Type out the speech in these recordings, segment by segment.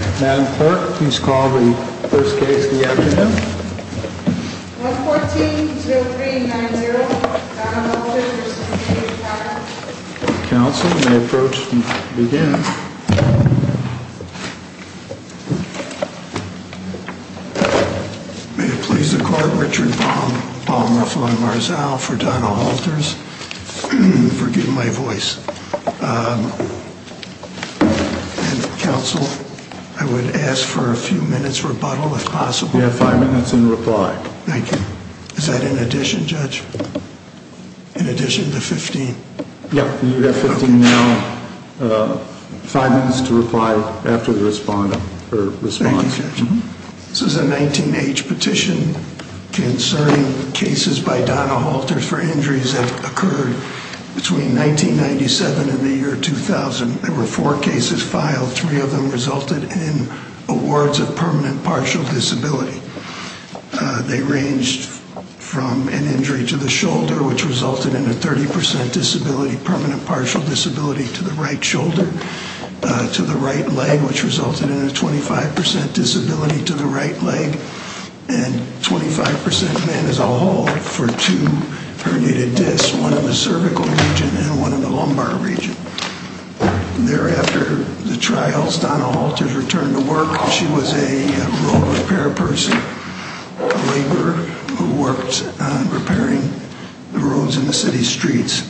Madam Clerk, please call the first case of the afternoon. 114-0390, Donna Halters v. Dino Halters Counsel, you may approach and begin. May it please the Court, Richard Baum, Baum, Rafa and Marzal, for Donna Halters. Forgive my voice. Counsel, I would ask for a few minutes rebuttal if possible. You have five minutes in reply. Thank you. Is that in addition, Judge? In addition to 15? Yes, you have 15 now. Five minutes to reply after the response. Thank you, Judge. This is a 19-H petition concerning cases by Donna Halters for injuries that occurred between 1997 and the year 2000. There were four cases filed. Three of them resulted in awards of permanent partial disability. They ranged from an injury to the shoulder, which resulted in a 30% disability, permanent partial disability, to the right shoulder, to the right leg, which resulted in a 25% disability to the right leg, and 25% as a whole for two herniated discs, one in the cervical region and one in the lumbar region. Thereafter, the trials, Donna Halters returned to work. She was a road repair person, a laborer who worked repairing the roads in the city streets.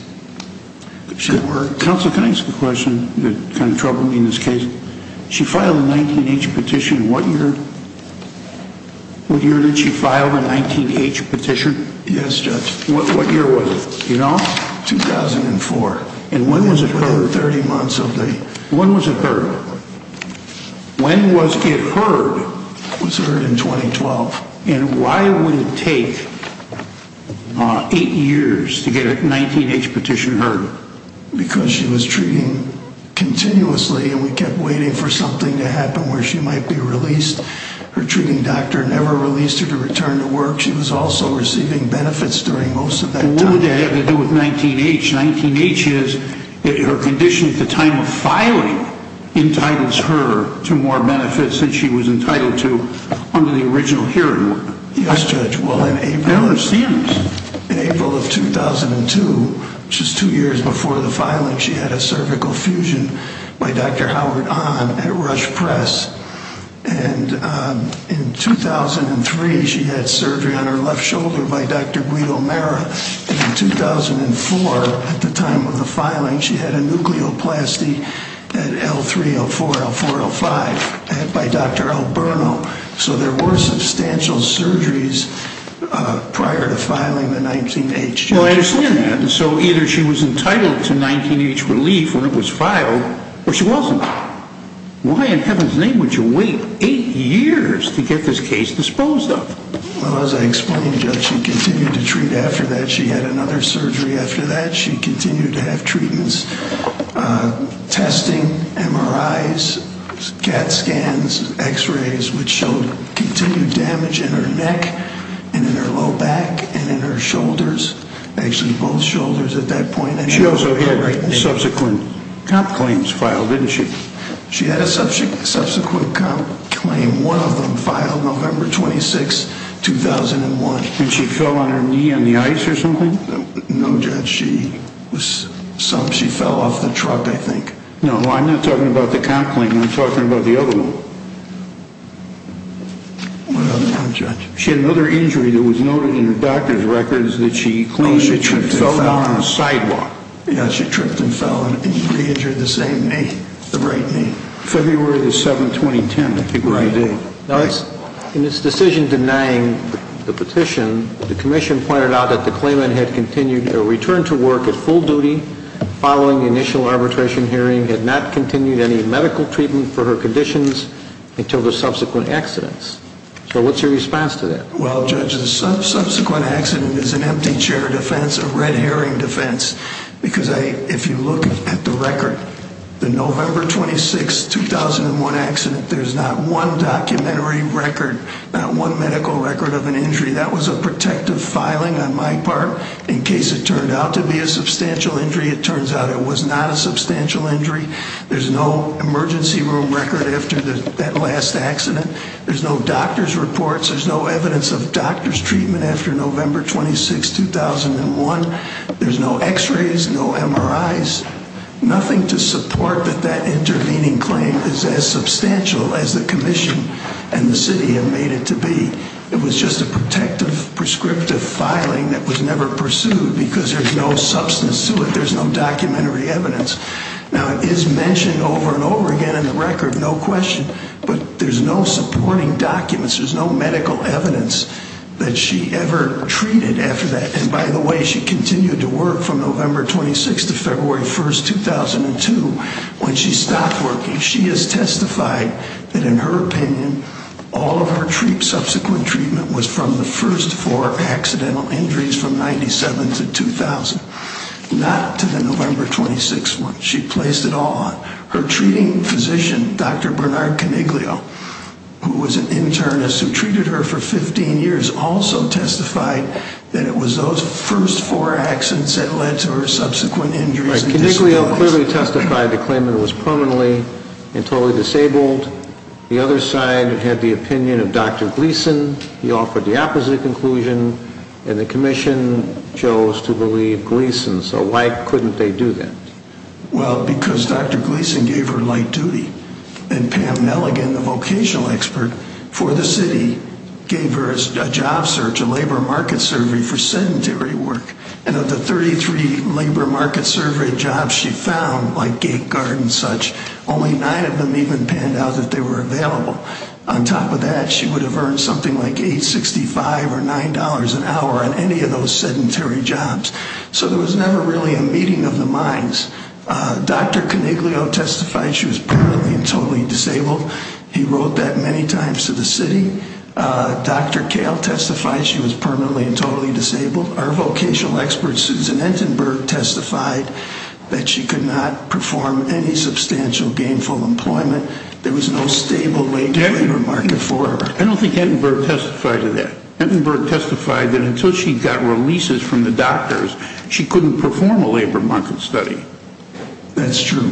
Counsel, can I ask a question that kind of troubled me in this case? She filed a 19-H petition. What year did she file the 19-H petition? Yes, Judge. What year was it? Do you know? 2004. And when was it heard? 30 months of the year. When was it heard? When was it heard? It was heard in 2012. And why would it take eight years to get a 19-H petition heard? Because she was treating continuously and we kept waiting for something to happen where she might be released. Her treating doctor never released her to return to work. She was also receiving benefits during most of that time. What did that have to do with 19-H? 19-H is her condition at the time of filing entitles her to more benefits than she was entitled to under the original hearing. Yes, Judge. I don't understand this. In April of 2002, just two years before the filing, she had a cervical fusion by Dr. Howard Ahn at Rush Press. And in 2003, she had surgery on her left shoulder by Dr. Guido Mera. And in 2004, at the time of the filing, she had a nucleoplasty at L3, L4, L5 by Dr. Alberto. So there were substantial surgeries prior to filing the 19-H. Well, I understand that. And so either she was entitled to 19-H relief when it was filed, or she wasn't. Why in heaven's name would you wait eight years to get this case disposed of? Well, as I explained, Judge, she continued to treat after that. She had another surgery after that. She continued to have treatments, testing, MRIs, CAT scans, X-rays, which showed continued damage in her neck and in her low back and in her shoulders, actually both shoulders at that point. She also had subsequent comp claims filed, didn't she? She had a subsequent comp claim, one of them filed November 26, 2001. And she fell on her knee on the ice or something? No, Judge. She fell off the truck, I think. No, I'm not talking about the comp claim. I'm talking about the other one. What other one, Judge? She had another injury that was noted in the doctor's records that she claimed she fell down on the sidewalk. Yeah, she tripped and fell and re-injured the same knee, the right knee. February 7, 2010, I think was the date. In this decision denying the petition, the commission pointed out that the claimant had continued her return to work at full duty following the initial arbitration hearing, had not continued any medical treatment for her conditions until the subsequent accidents. So what's your response to that? Well, Judge, the subsequent accident is an empty chair defense, a red herring defense, because if you look at the record, the November 26, 2001 accident, there's not one documentary record, not one medical record of an injury. That was a protective filing on my part in case it turned out to be a substantial injury. It turns out it was not a substantial injury. There's no emergency room record after that last accident. There's no doctor's reports. There's no evidence of doctor's treatment after November 26, 2001. There's no x-rays, no MRIs, nothing to support that that intervening claim is as substantial as the commission and the city have made it to be. It was just a protective, prescriptive filing that was never pursued because there's no substance to it. There's no documentary evidence. Now, it is mentioned over and over again in the record, no question, but there's no supporting documents. There's no medical evidence that she ever treated after that. And, by the way, she continued to work from November 26 to February 1, 2002. When she stopped working, she has testified that, in her opinion, all of her subsequent treatment was from the first four accidental injuries from 97 to 2000, not to the November 26 one. She placed it all on her treating physician, Dr. Bernard Coniglio, who was an internist who treated her for 15 years, who has also testified that it was those first four accidents that led to her subsequent injuries and disabilities. Right. Coniglio clearly testified to claiming it was permanently and totally disabled. The other side had the opinion of Dr. Gleason. He offered the opposite conclusion, and the commission chose to believe Gleason. So why couldn't they do that? Well, because Dr. Gleason gave her light duty. And Pam Nelligan, the vocational expert for the city, gave her a job search, a labor market survey, for sedentary work. And of the 33 labor market survey jobs she found, like gate guard and such, only nine of them even panned out that they were available. On top of that, she would have earned something like $8.65 or $9 an hour on any of those sedentary jobs. So there was never really a meeting of the minds. Dr. Coniglio testified she was permanently and totally disabled. He wrote that many times to the city. Dr. Kahle testified she was permanently and totally disabled. Our vocational expert, Susan Entenberg, testified that she could not perform any substantial gainful employment. There was no stable wage labor market for her. I don't think Entenberg testified to that. Entenberg testified that until she got releases from the doctors, she couldn't perform a labor market study. That's true.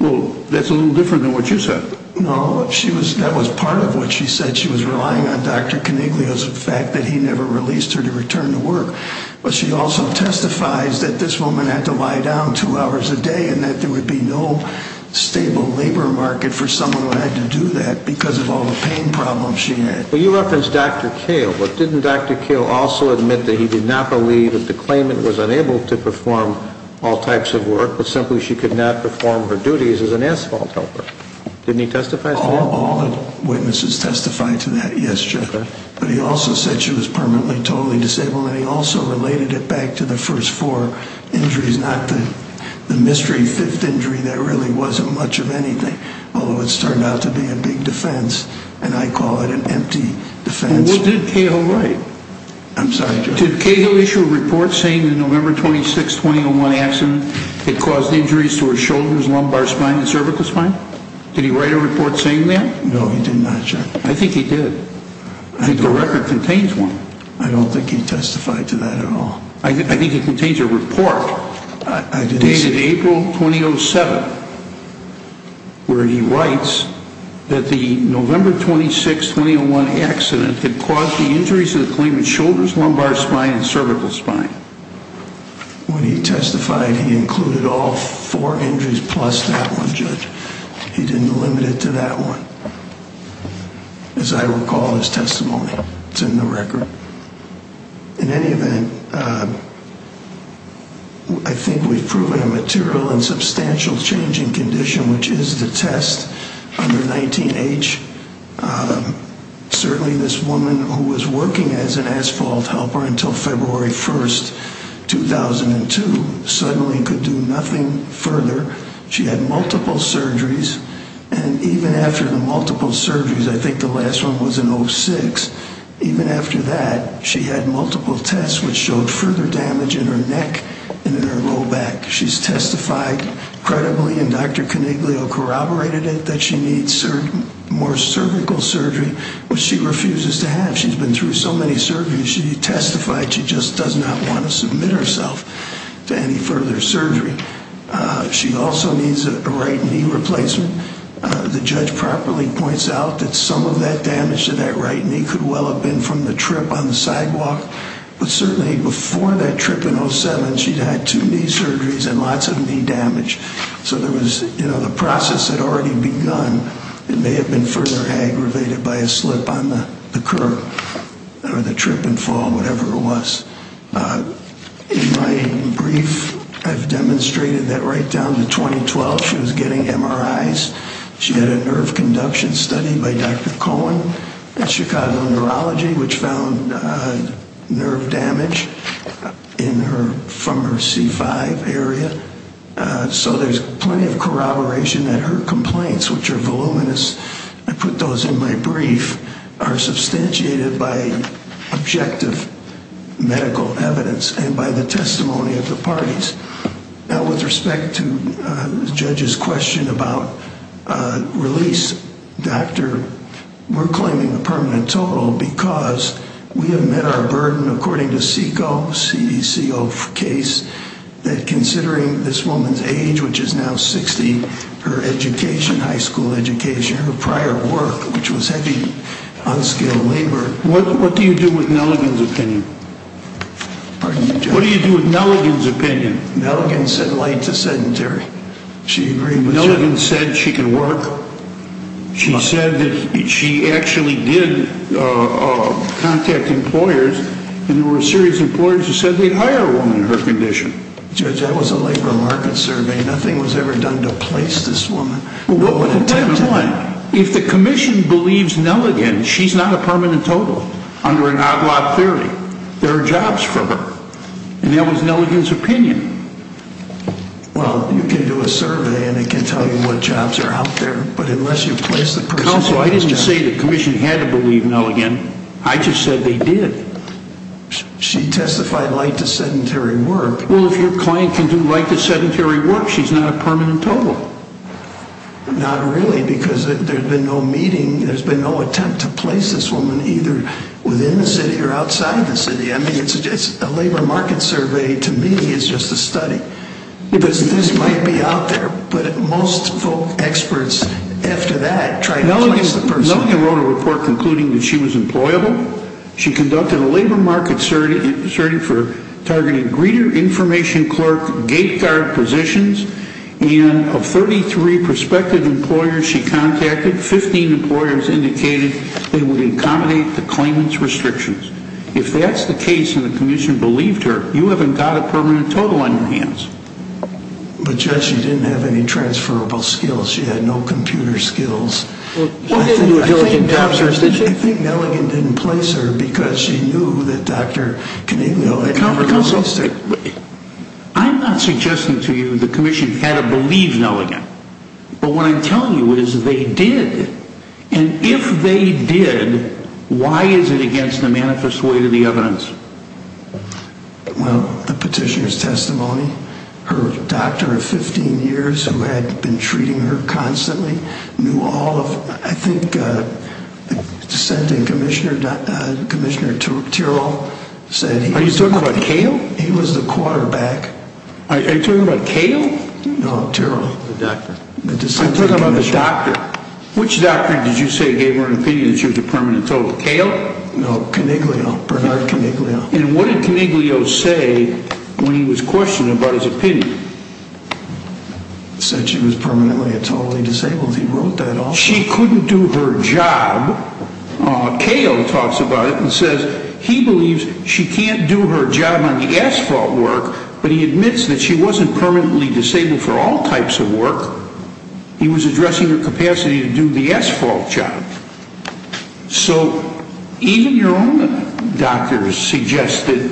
Well, that's a little different than what you said. No, that was part of what she said. She was relying on Dr. Coniglio's fact that he never released her to return to work. But she also testifies that this woman had to lie down two hours a day and that there would be no stable labor market for someone who had to do that because of all the pain problems she had. Well, you referenced Dr. Kahle. But didn't Dr. Kahle also admit that he did not believe that the claimant was unable to perform all types of work, but simply she could not perform her duties as an asphalt helper? Didn't he testify to that? All the witnesses testified to that, yes, Judge. But he also said she was permanently and totally disabled. And he also related it back to the first four injuries, not the mystery fifth injury that really wasn't much of anything, although it started out to be a big defense, and I call it an empty defense. Well, what did Kahle write? I'm sorry, Judge. Did Kahle issue a report saying the November 26, 2001 accident had caused injuries to her shoulders, lumbar spine, and cervical spine? Did he write a report saying that? No, he did not, Judge. I think he did. I don't. I think the record contains one. I don't think he testified to that at all. I think it contains a report dated April 2007 where he writes that the November 26, 2001 accident had caused the injuries to the claimant's shoulders, lumbar spine, and cervical spine. When he testified, he included all four injuries plus that one, Judge. He didn't limit it to that one. As I recall in his testimony, it's in the record. In any event, I think we've proven a material and substantial change in condition, which is the test under 19H. Certainly this woman who was working as an asphalt helper until February 1, 2002, suddenly could do nothing further. She had multiple surgeries, and even after the multiple surgeries, I think the last one was in 06, even after that, she had multiple tests which showed further damage in her neck and in her low back. She's testified credibly, and Dr. Coniglio corroborated it, that she needs more cervical surgery, which she refuses to have. She's been through so many surgeries. She testified she just does not want to submit herself to any further surgery. She also needs a right knee replacement. The judge properly points out that some of that damage to that right knee could well have been from the trip on the sidewalk. But certainly before that trip in 07, she'd had two knee surgeries and lots of knee damage. So there was, you know, the process had already begun. It may have been further aggravated by a slip on the curb or the trip and fall, whatever it was. In my brief, I've demonstrated that right down to 2012, she was getting MRIs. She had a nerve conduction study by Dr. Cohen at Chicago Neurology, which found nerve damage from her C5 area. So there's plenty of corroboration that her complaints, which are voluminous, I put those in my brief, are substantiated by objective medical evidence and by the testimony of the parties. Now, with respect to the judge's question about release, doctor, we're claiming a permanent total because we have met our burden, according to CECO, C-E-C-O case, that considering this woman's age, which is now 60, her education, high school education, her prior work, which was heavy, unskilled labor. What do you do with Nelligan's opinion? Pardon me, Judge? What do you do with Nelligan's opinion? Nelligan said light to sedentary. Nelligan said she could work. She said that she actually did contact employers, and there were a series of employers who said they'd hire a woman in her condition. Judge, that was a labor market survey. Nothing was ever done to place this woman. Well, what would attempt to do? If the commission believes Nelligan, she's not a permanent total. Under an agla theory, there are jobs for her. And that was Nelligan's opinion. Well, you can do a survey, and it can tell you what jobs are out there, but unless you place the person... Counsel, I didn't say the commission had to believe Nelligan. I just said they did. She testified light to sedentary work. Well, if your client can do light to sedentary work, she's not a permanent total. Not really, because there's been no meeting, there's been no attempt to place this woman either within the city or outside the city. I mean, a labor market survey, to me, is just a study. This might be out there, but most experts, after that, try to place the person. Nelligan wrote a report concluding that she was employable. She conducted a labor market survey for targeted greeter information clerk gate guard positions, and of 33 prospective employers she contacted, 15 employers indicated they would accommodate the claimant's restrictions. If that's the case, and the commission believed her, you haven't got a permanent total on your hands. But, Judge, she didn't have any transferable skills. She had no computer skills. I think Nelligan didn't place her because she knew that Dr. Caniglia... Counsel, I'm not suggesting to you the commission had to believe Nelligan. But what I'm telling you is they did. And if they did, why is it against the manifest way to the evidence? Well, the petitioner's testimony, her doctor of 15 years who had been treating her constantly, knew all of, I think, the dissenting commissioner, Commissioner Tyrrell said... Are you talking about Cale? He was the quarterback. Are you talking about Cale? No, Tyrrell. The doctor. I'm talking about the doctor. Which doctor did you say gave her an opinion that she was a permanent total? No, Caniglio, Bernard Caniglio. And what did Caniglio say when he was questioned about his opinion? He said she was permanently a totally disabled. He wrote that off. She couldn't do her job. Cale talks about it and says he believes she can't do her job on the asphalt work, but he admits that she wasn't permanently disabled for all types of work. He was addressing her capacity to do the asphalt job. So even your own doctors suggested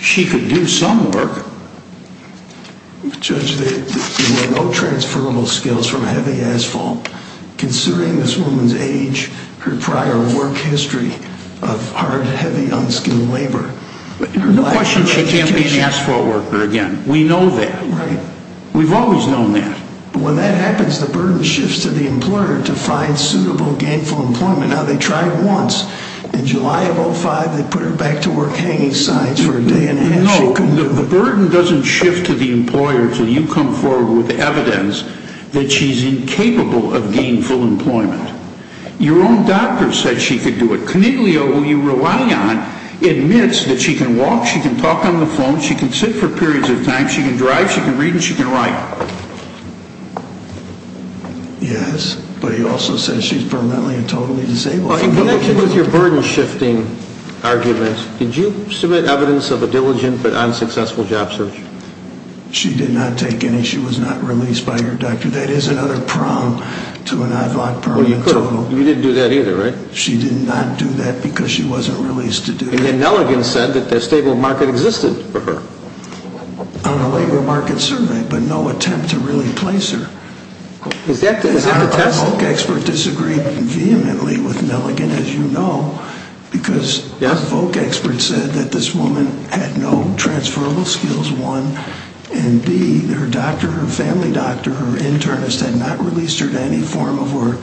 she could do some work. Judge, there were no transferable skills from heavy asphalt. Considering this woman's age, her prior work history of hard, heavy, unskilled labor... No question she can't be an asphalt worker again. We know that. We've always known that. When that happens, the burden shifts to the employer to find suitable gainful employment. Now, they tried once. In July of 2005, they put her back to work hanging signs for a day and a half. No, the burden doesn't shift to the employer until you come forward with evidence that she's incapable of gainful employment. Your own doctor said she could do it. Your own doctor, who you rely on, admits that she can walk, she can talk on the phone, she can sit for periods of time, she can drive, she can read and she can write. Yes, but he also says she's permanently and totally disabled. In connection with your burden-shifting argument, did you submit evidence of a diligent but unsuccessful job search? She did not take any. She was not released by her doctor. That is another problem to an ad-hoc permanent total. You didn't do that either, right? She did not do that because she wasn't released to do it. And then Nelligan said that the stable market existed for her. On a labor market survey, but no attempt to really place her. Is that the test? A VOC expert disagreed vehemently with Nelligan, as you know, because a VOC expert said that this woman had no transferable skills, one, and B, her doctor, her family doctor, her internist had not released her to any form of work,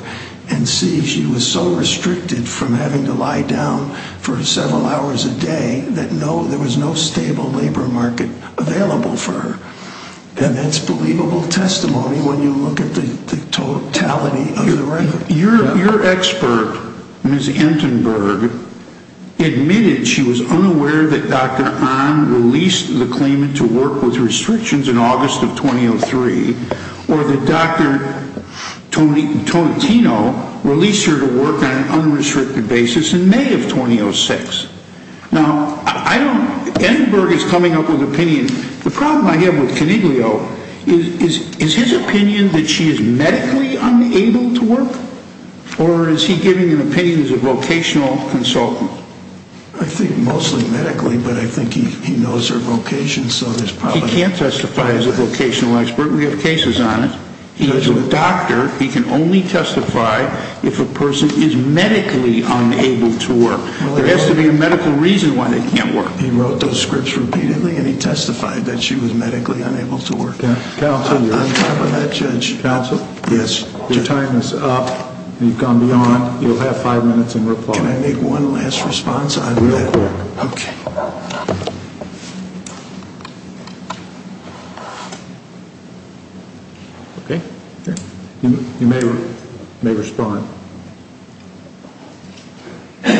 and C, she was so restricted from having to lie down for several hours a day that there was no stable labor market available for her. And that's believable testimony when you look at the totality of the rate. Your expert, Ms. Entenberg, admitted she was unaware that Dr. Ahn released the claimant to work with restrictions in August of 2003, or that Dr. Tonantino released her to work on an unrestricted basis in May of 2006. Now, Entenberg is coming up with opinion. The problem I have with Coniglio is his opinion that she is medically unable to work, or is he giving an opinion as a vocational consultant? I think mostly medically, but I think he knows her vocation, so there's probably... He can't testify as a vocational expert. We have cases on it. He is a doctor. He can only testify if a person is medically unable to work. There has to be a medical reason why they can't work. He wrote those scripts repeatedly, and he testified that she was medically unable to work. Counsel... On top of that, Judge... Counsel? Yes. Your time is up. You've gone beyond. You'll have five minutes in reply. Can I make one last response on that? Okay. Okay. You may respond. Good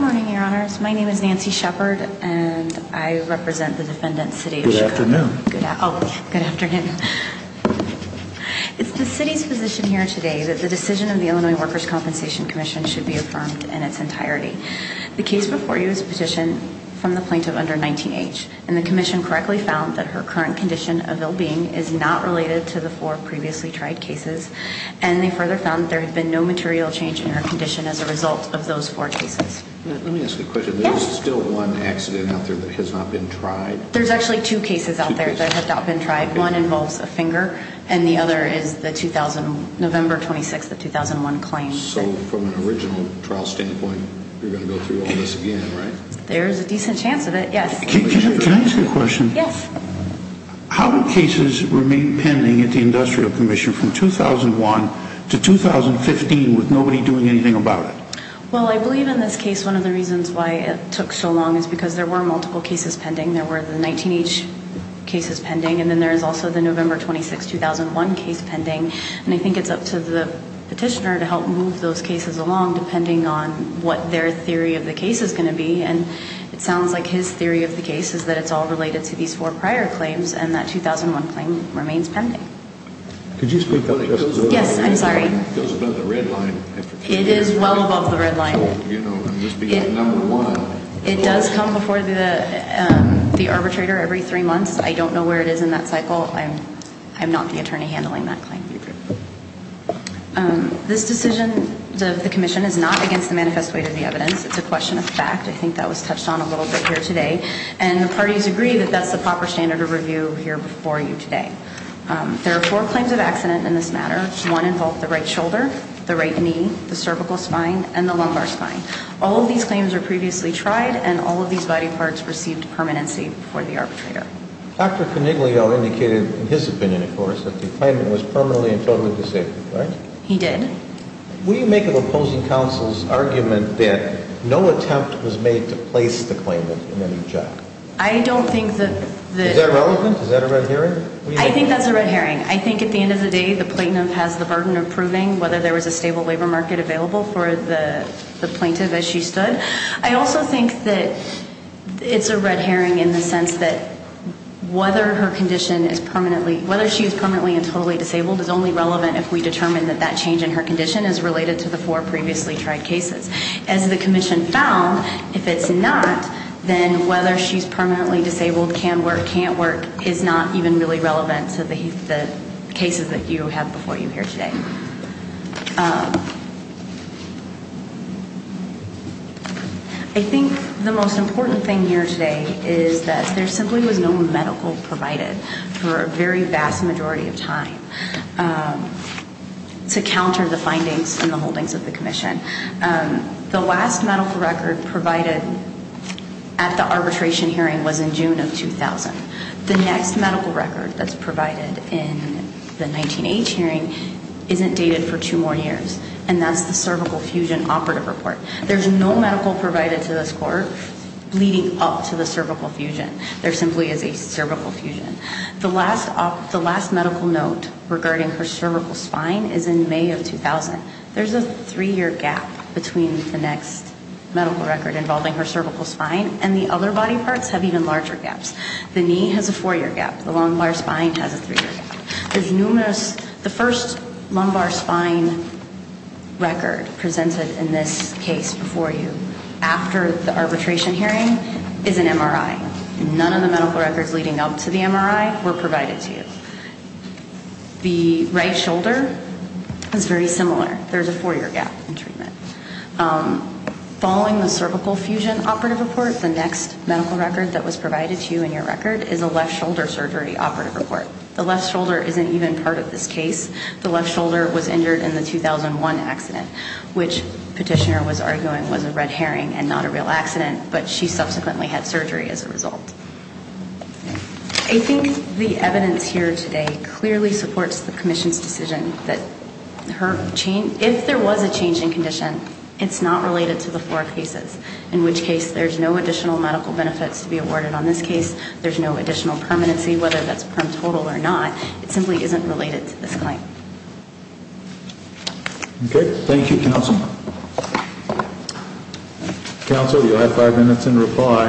morning, Your Honors. My name is Nancy Shepard, and I represent the defendant, Sadee Ishiguro. Good afternoon. Oh, good afternoon. It's the city's position here today that the decision of the Illinois Workers' Compensation Commission should be affirmed in its entirety. The case before you is a petition from the plaintiff under 19H, and the commission correctly found that her current condition of ill-being is not related to the four previously tried cases, and they further found that there had been no material change in her condition as a result of those four cases. Let me ask you a question. Yes. There is still one accident out there that has not been tried? There's actually two cases out there that have not been tried. One involves a finger, and the other is the November 26, 2001 claim. So from an original trial standpoint, you're going to go through all this again, right? There's a decent chance of it, yes. Can I ask you a question? Yes. How do cases remain pending at the Industrial Commission from 2001 to 2015 with nobody doing anything about it? Well, I believe in this case one of the reasons why it took so long is because there were multiple cases pending. There were the 19H cases pending, and then there's also the November 26, 2001 case pending, and I think it's up to the petitioner to help move those cases along depending on what their theory of the case is going to be. And it sounds like his theory of the case is that it's all related to these four prior claims, and that 2001 claim remains pending. Could you speak up just a little bit? Yes, I'm sorry. It goes above the red line. It is well above the red line. So, you know, I'm just being number one. It does come before the arbitrator every three months. I don't know where it is in that cycle. I'm not the attorney handling that claim. This decision of the commission is not against the manifest weight of the evidence. It's a question of fact. I think that was touched on a little bit here today, and the parties agree that that's the proper standard of review here before you today. There are four claims of accident in this matter. One involved the right shoulder, the right knee, the cervical spine, and the lumbar spine. All of these claims were previously tried, and all of these body parts received permanency before the arbitrator. Dr. Coniglio indicated, in his opinion, of course, that the claimant was permanently and totally disabled, right? He did. Will you make an opposing counsel's argument that no attempt was made to place the claimant in any judgment? I don't think that the- Is that relevant? Is that a red herring? I think that's a red herring. I think at the end of the day the plaintiff has the burden of proving whether there was a stable labor market available for the plaintiff as she stood. I also think that it's a red herring in the sense that whether her condition is permanently- whether she is permanently and totally disabled is only relevant if we determine that that change in her condition is related to the four previously tried cases. As the commission found, if it's not, then whether she's permanently disabled, can work, can't work, is not even really relevant to the cases that you have before you here today. I think the most important thing here today is that there simply was no medical provided for a very vast majority of time to counter the findings and the holdings of the commission. The last medical record provided at the arbitration hearing was in June of 2000. The next medical record that's provided in the 19-H hearing isn't dated for two more years, and that's the cervical fusion operative report. There's no medical provided to this court leading up to the cervical fusion. There simply is a cervical fusion. The last medical note regarding her cervical spine is in May of 2000. There's a three-year gap between the next medical record involving her cervical spine and the other body parts have even larger gaps. The knee has a four-year gap. The lumbar spine has a three-year gap. The first lumbar spine record presented in this case before you after the arbitration hearing is an MRI. None of the medical records leading up to the MRI were provided to you. The right shoulder is very similar. There's a four-year gap in treatment. Following the cervical fusion operative report, the next medical record that was provided to you in your record is a left shoulder surgery operative report. The left shoulder isn't even part of this case. The left shoulder was injured in the 2001 accident, which petitioner was arguing was a red herring and not a real accident, but she subsequently had surgery as a result. I think the evidence here today clearly supports the Commission's decision that if there was a change in condition, it's not related to the four cases, in which case there's no additional medical benefits to be awarded on this case. There's no additional permanency, whether that's per total or not. It simply isn't related to this claim. Okay. Thank you, Counsel. Counsel, you have five minutes in reply.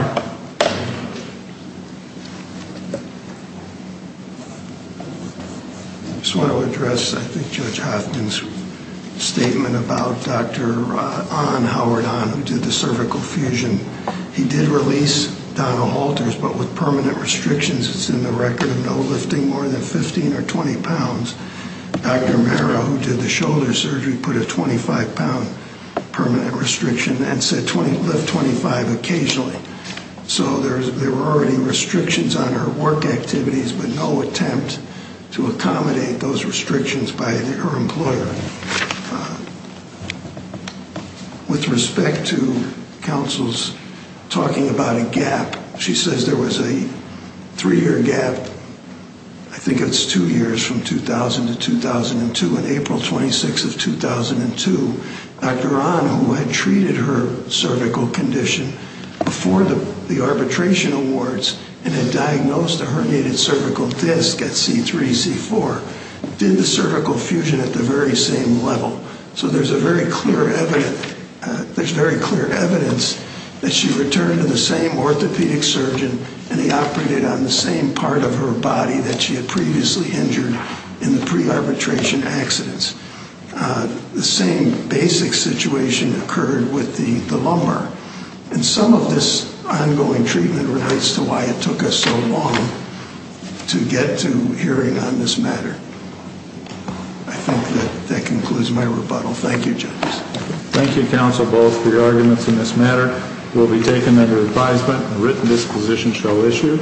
I just want to address, I think, Judge Hoffman's statement about Dr. Howard Ahn, who did the cervical fusion. He did release Donald Halters, but with permanent restrictions. It's in the record of no lifting more than 15 or 20 pounds. Dr. Mara, who did the shoulder surgery, put a 25-pound permanent restriction and said lift 25 occasionally. So there were already restrictions on her work activities, but no attempt to accommodate those restrictions by her employer. With respect to counsel's talking about a gap, she says there was a three-year gap. I think it's two years from 2000 to 2002. On April 26th of 2002, Dr. Ahn, who had treated her cervical condition before the arbitration awards and had diagnosed a herniated cervical disc at C3, C4, did the cervical fusion at the very same level. So there's very clear evidence that she returned to the same orthopedic surgeon, and he operated on the same part of her body that she had previously injured in the pre-arbitration accidents. The same basic situation occurred with the lumbar. And some of this ongoing treatment relates to why it took us so long to get to hearing on this matter. I think that concludes my rebuttal. Thank you, judges. Thank you, counsel, both, for your arguments in this matter. It will be taken under advisement and written disposition shall issue.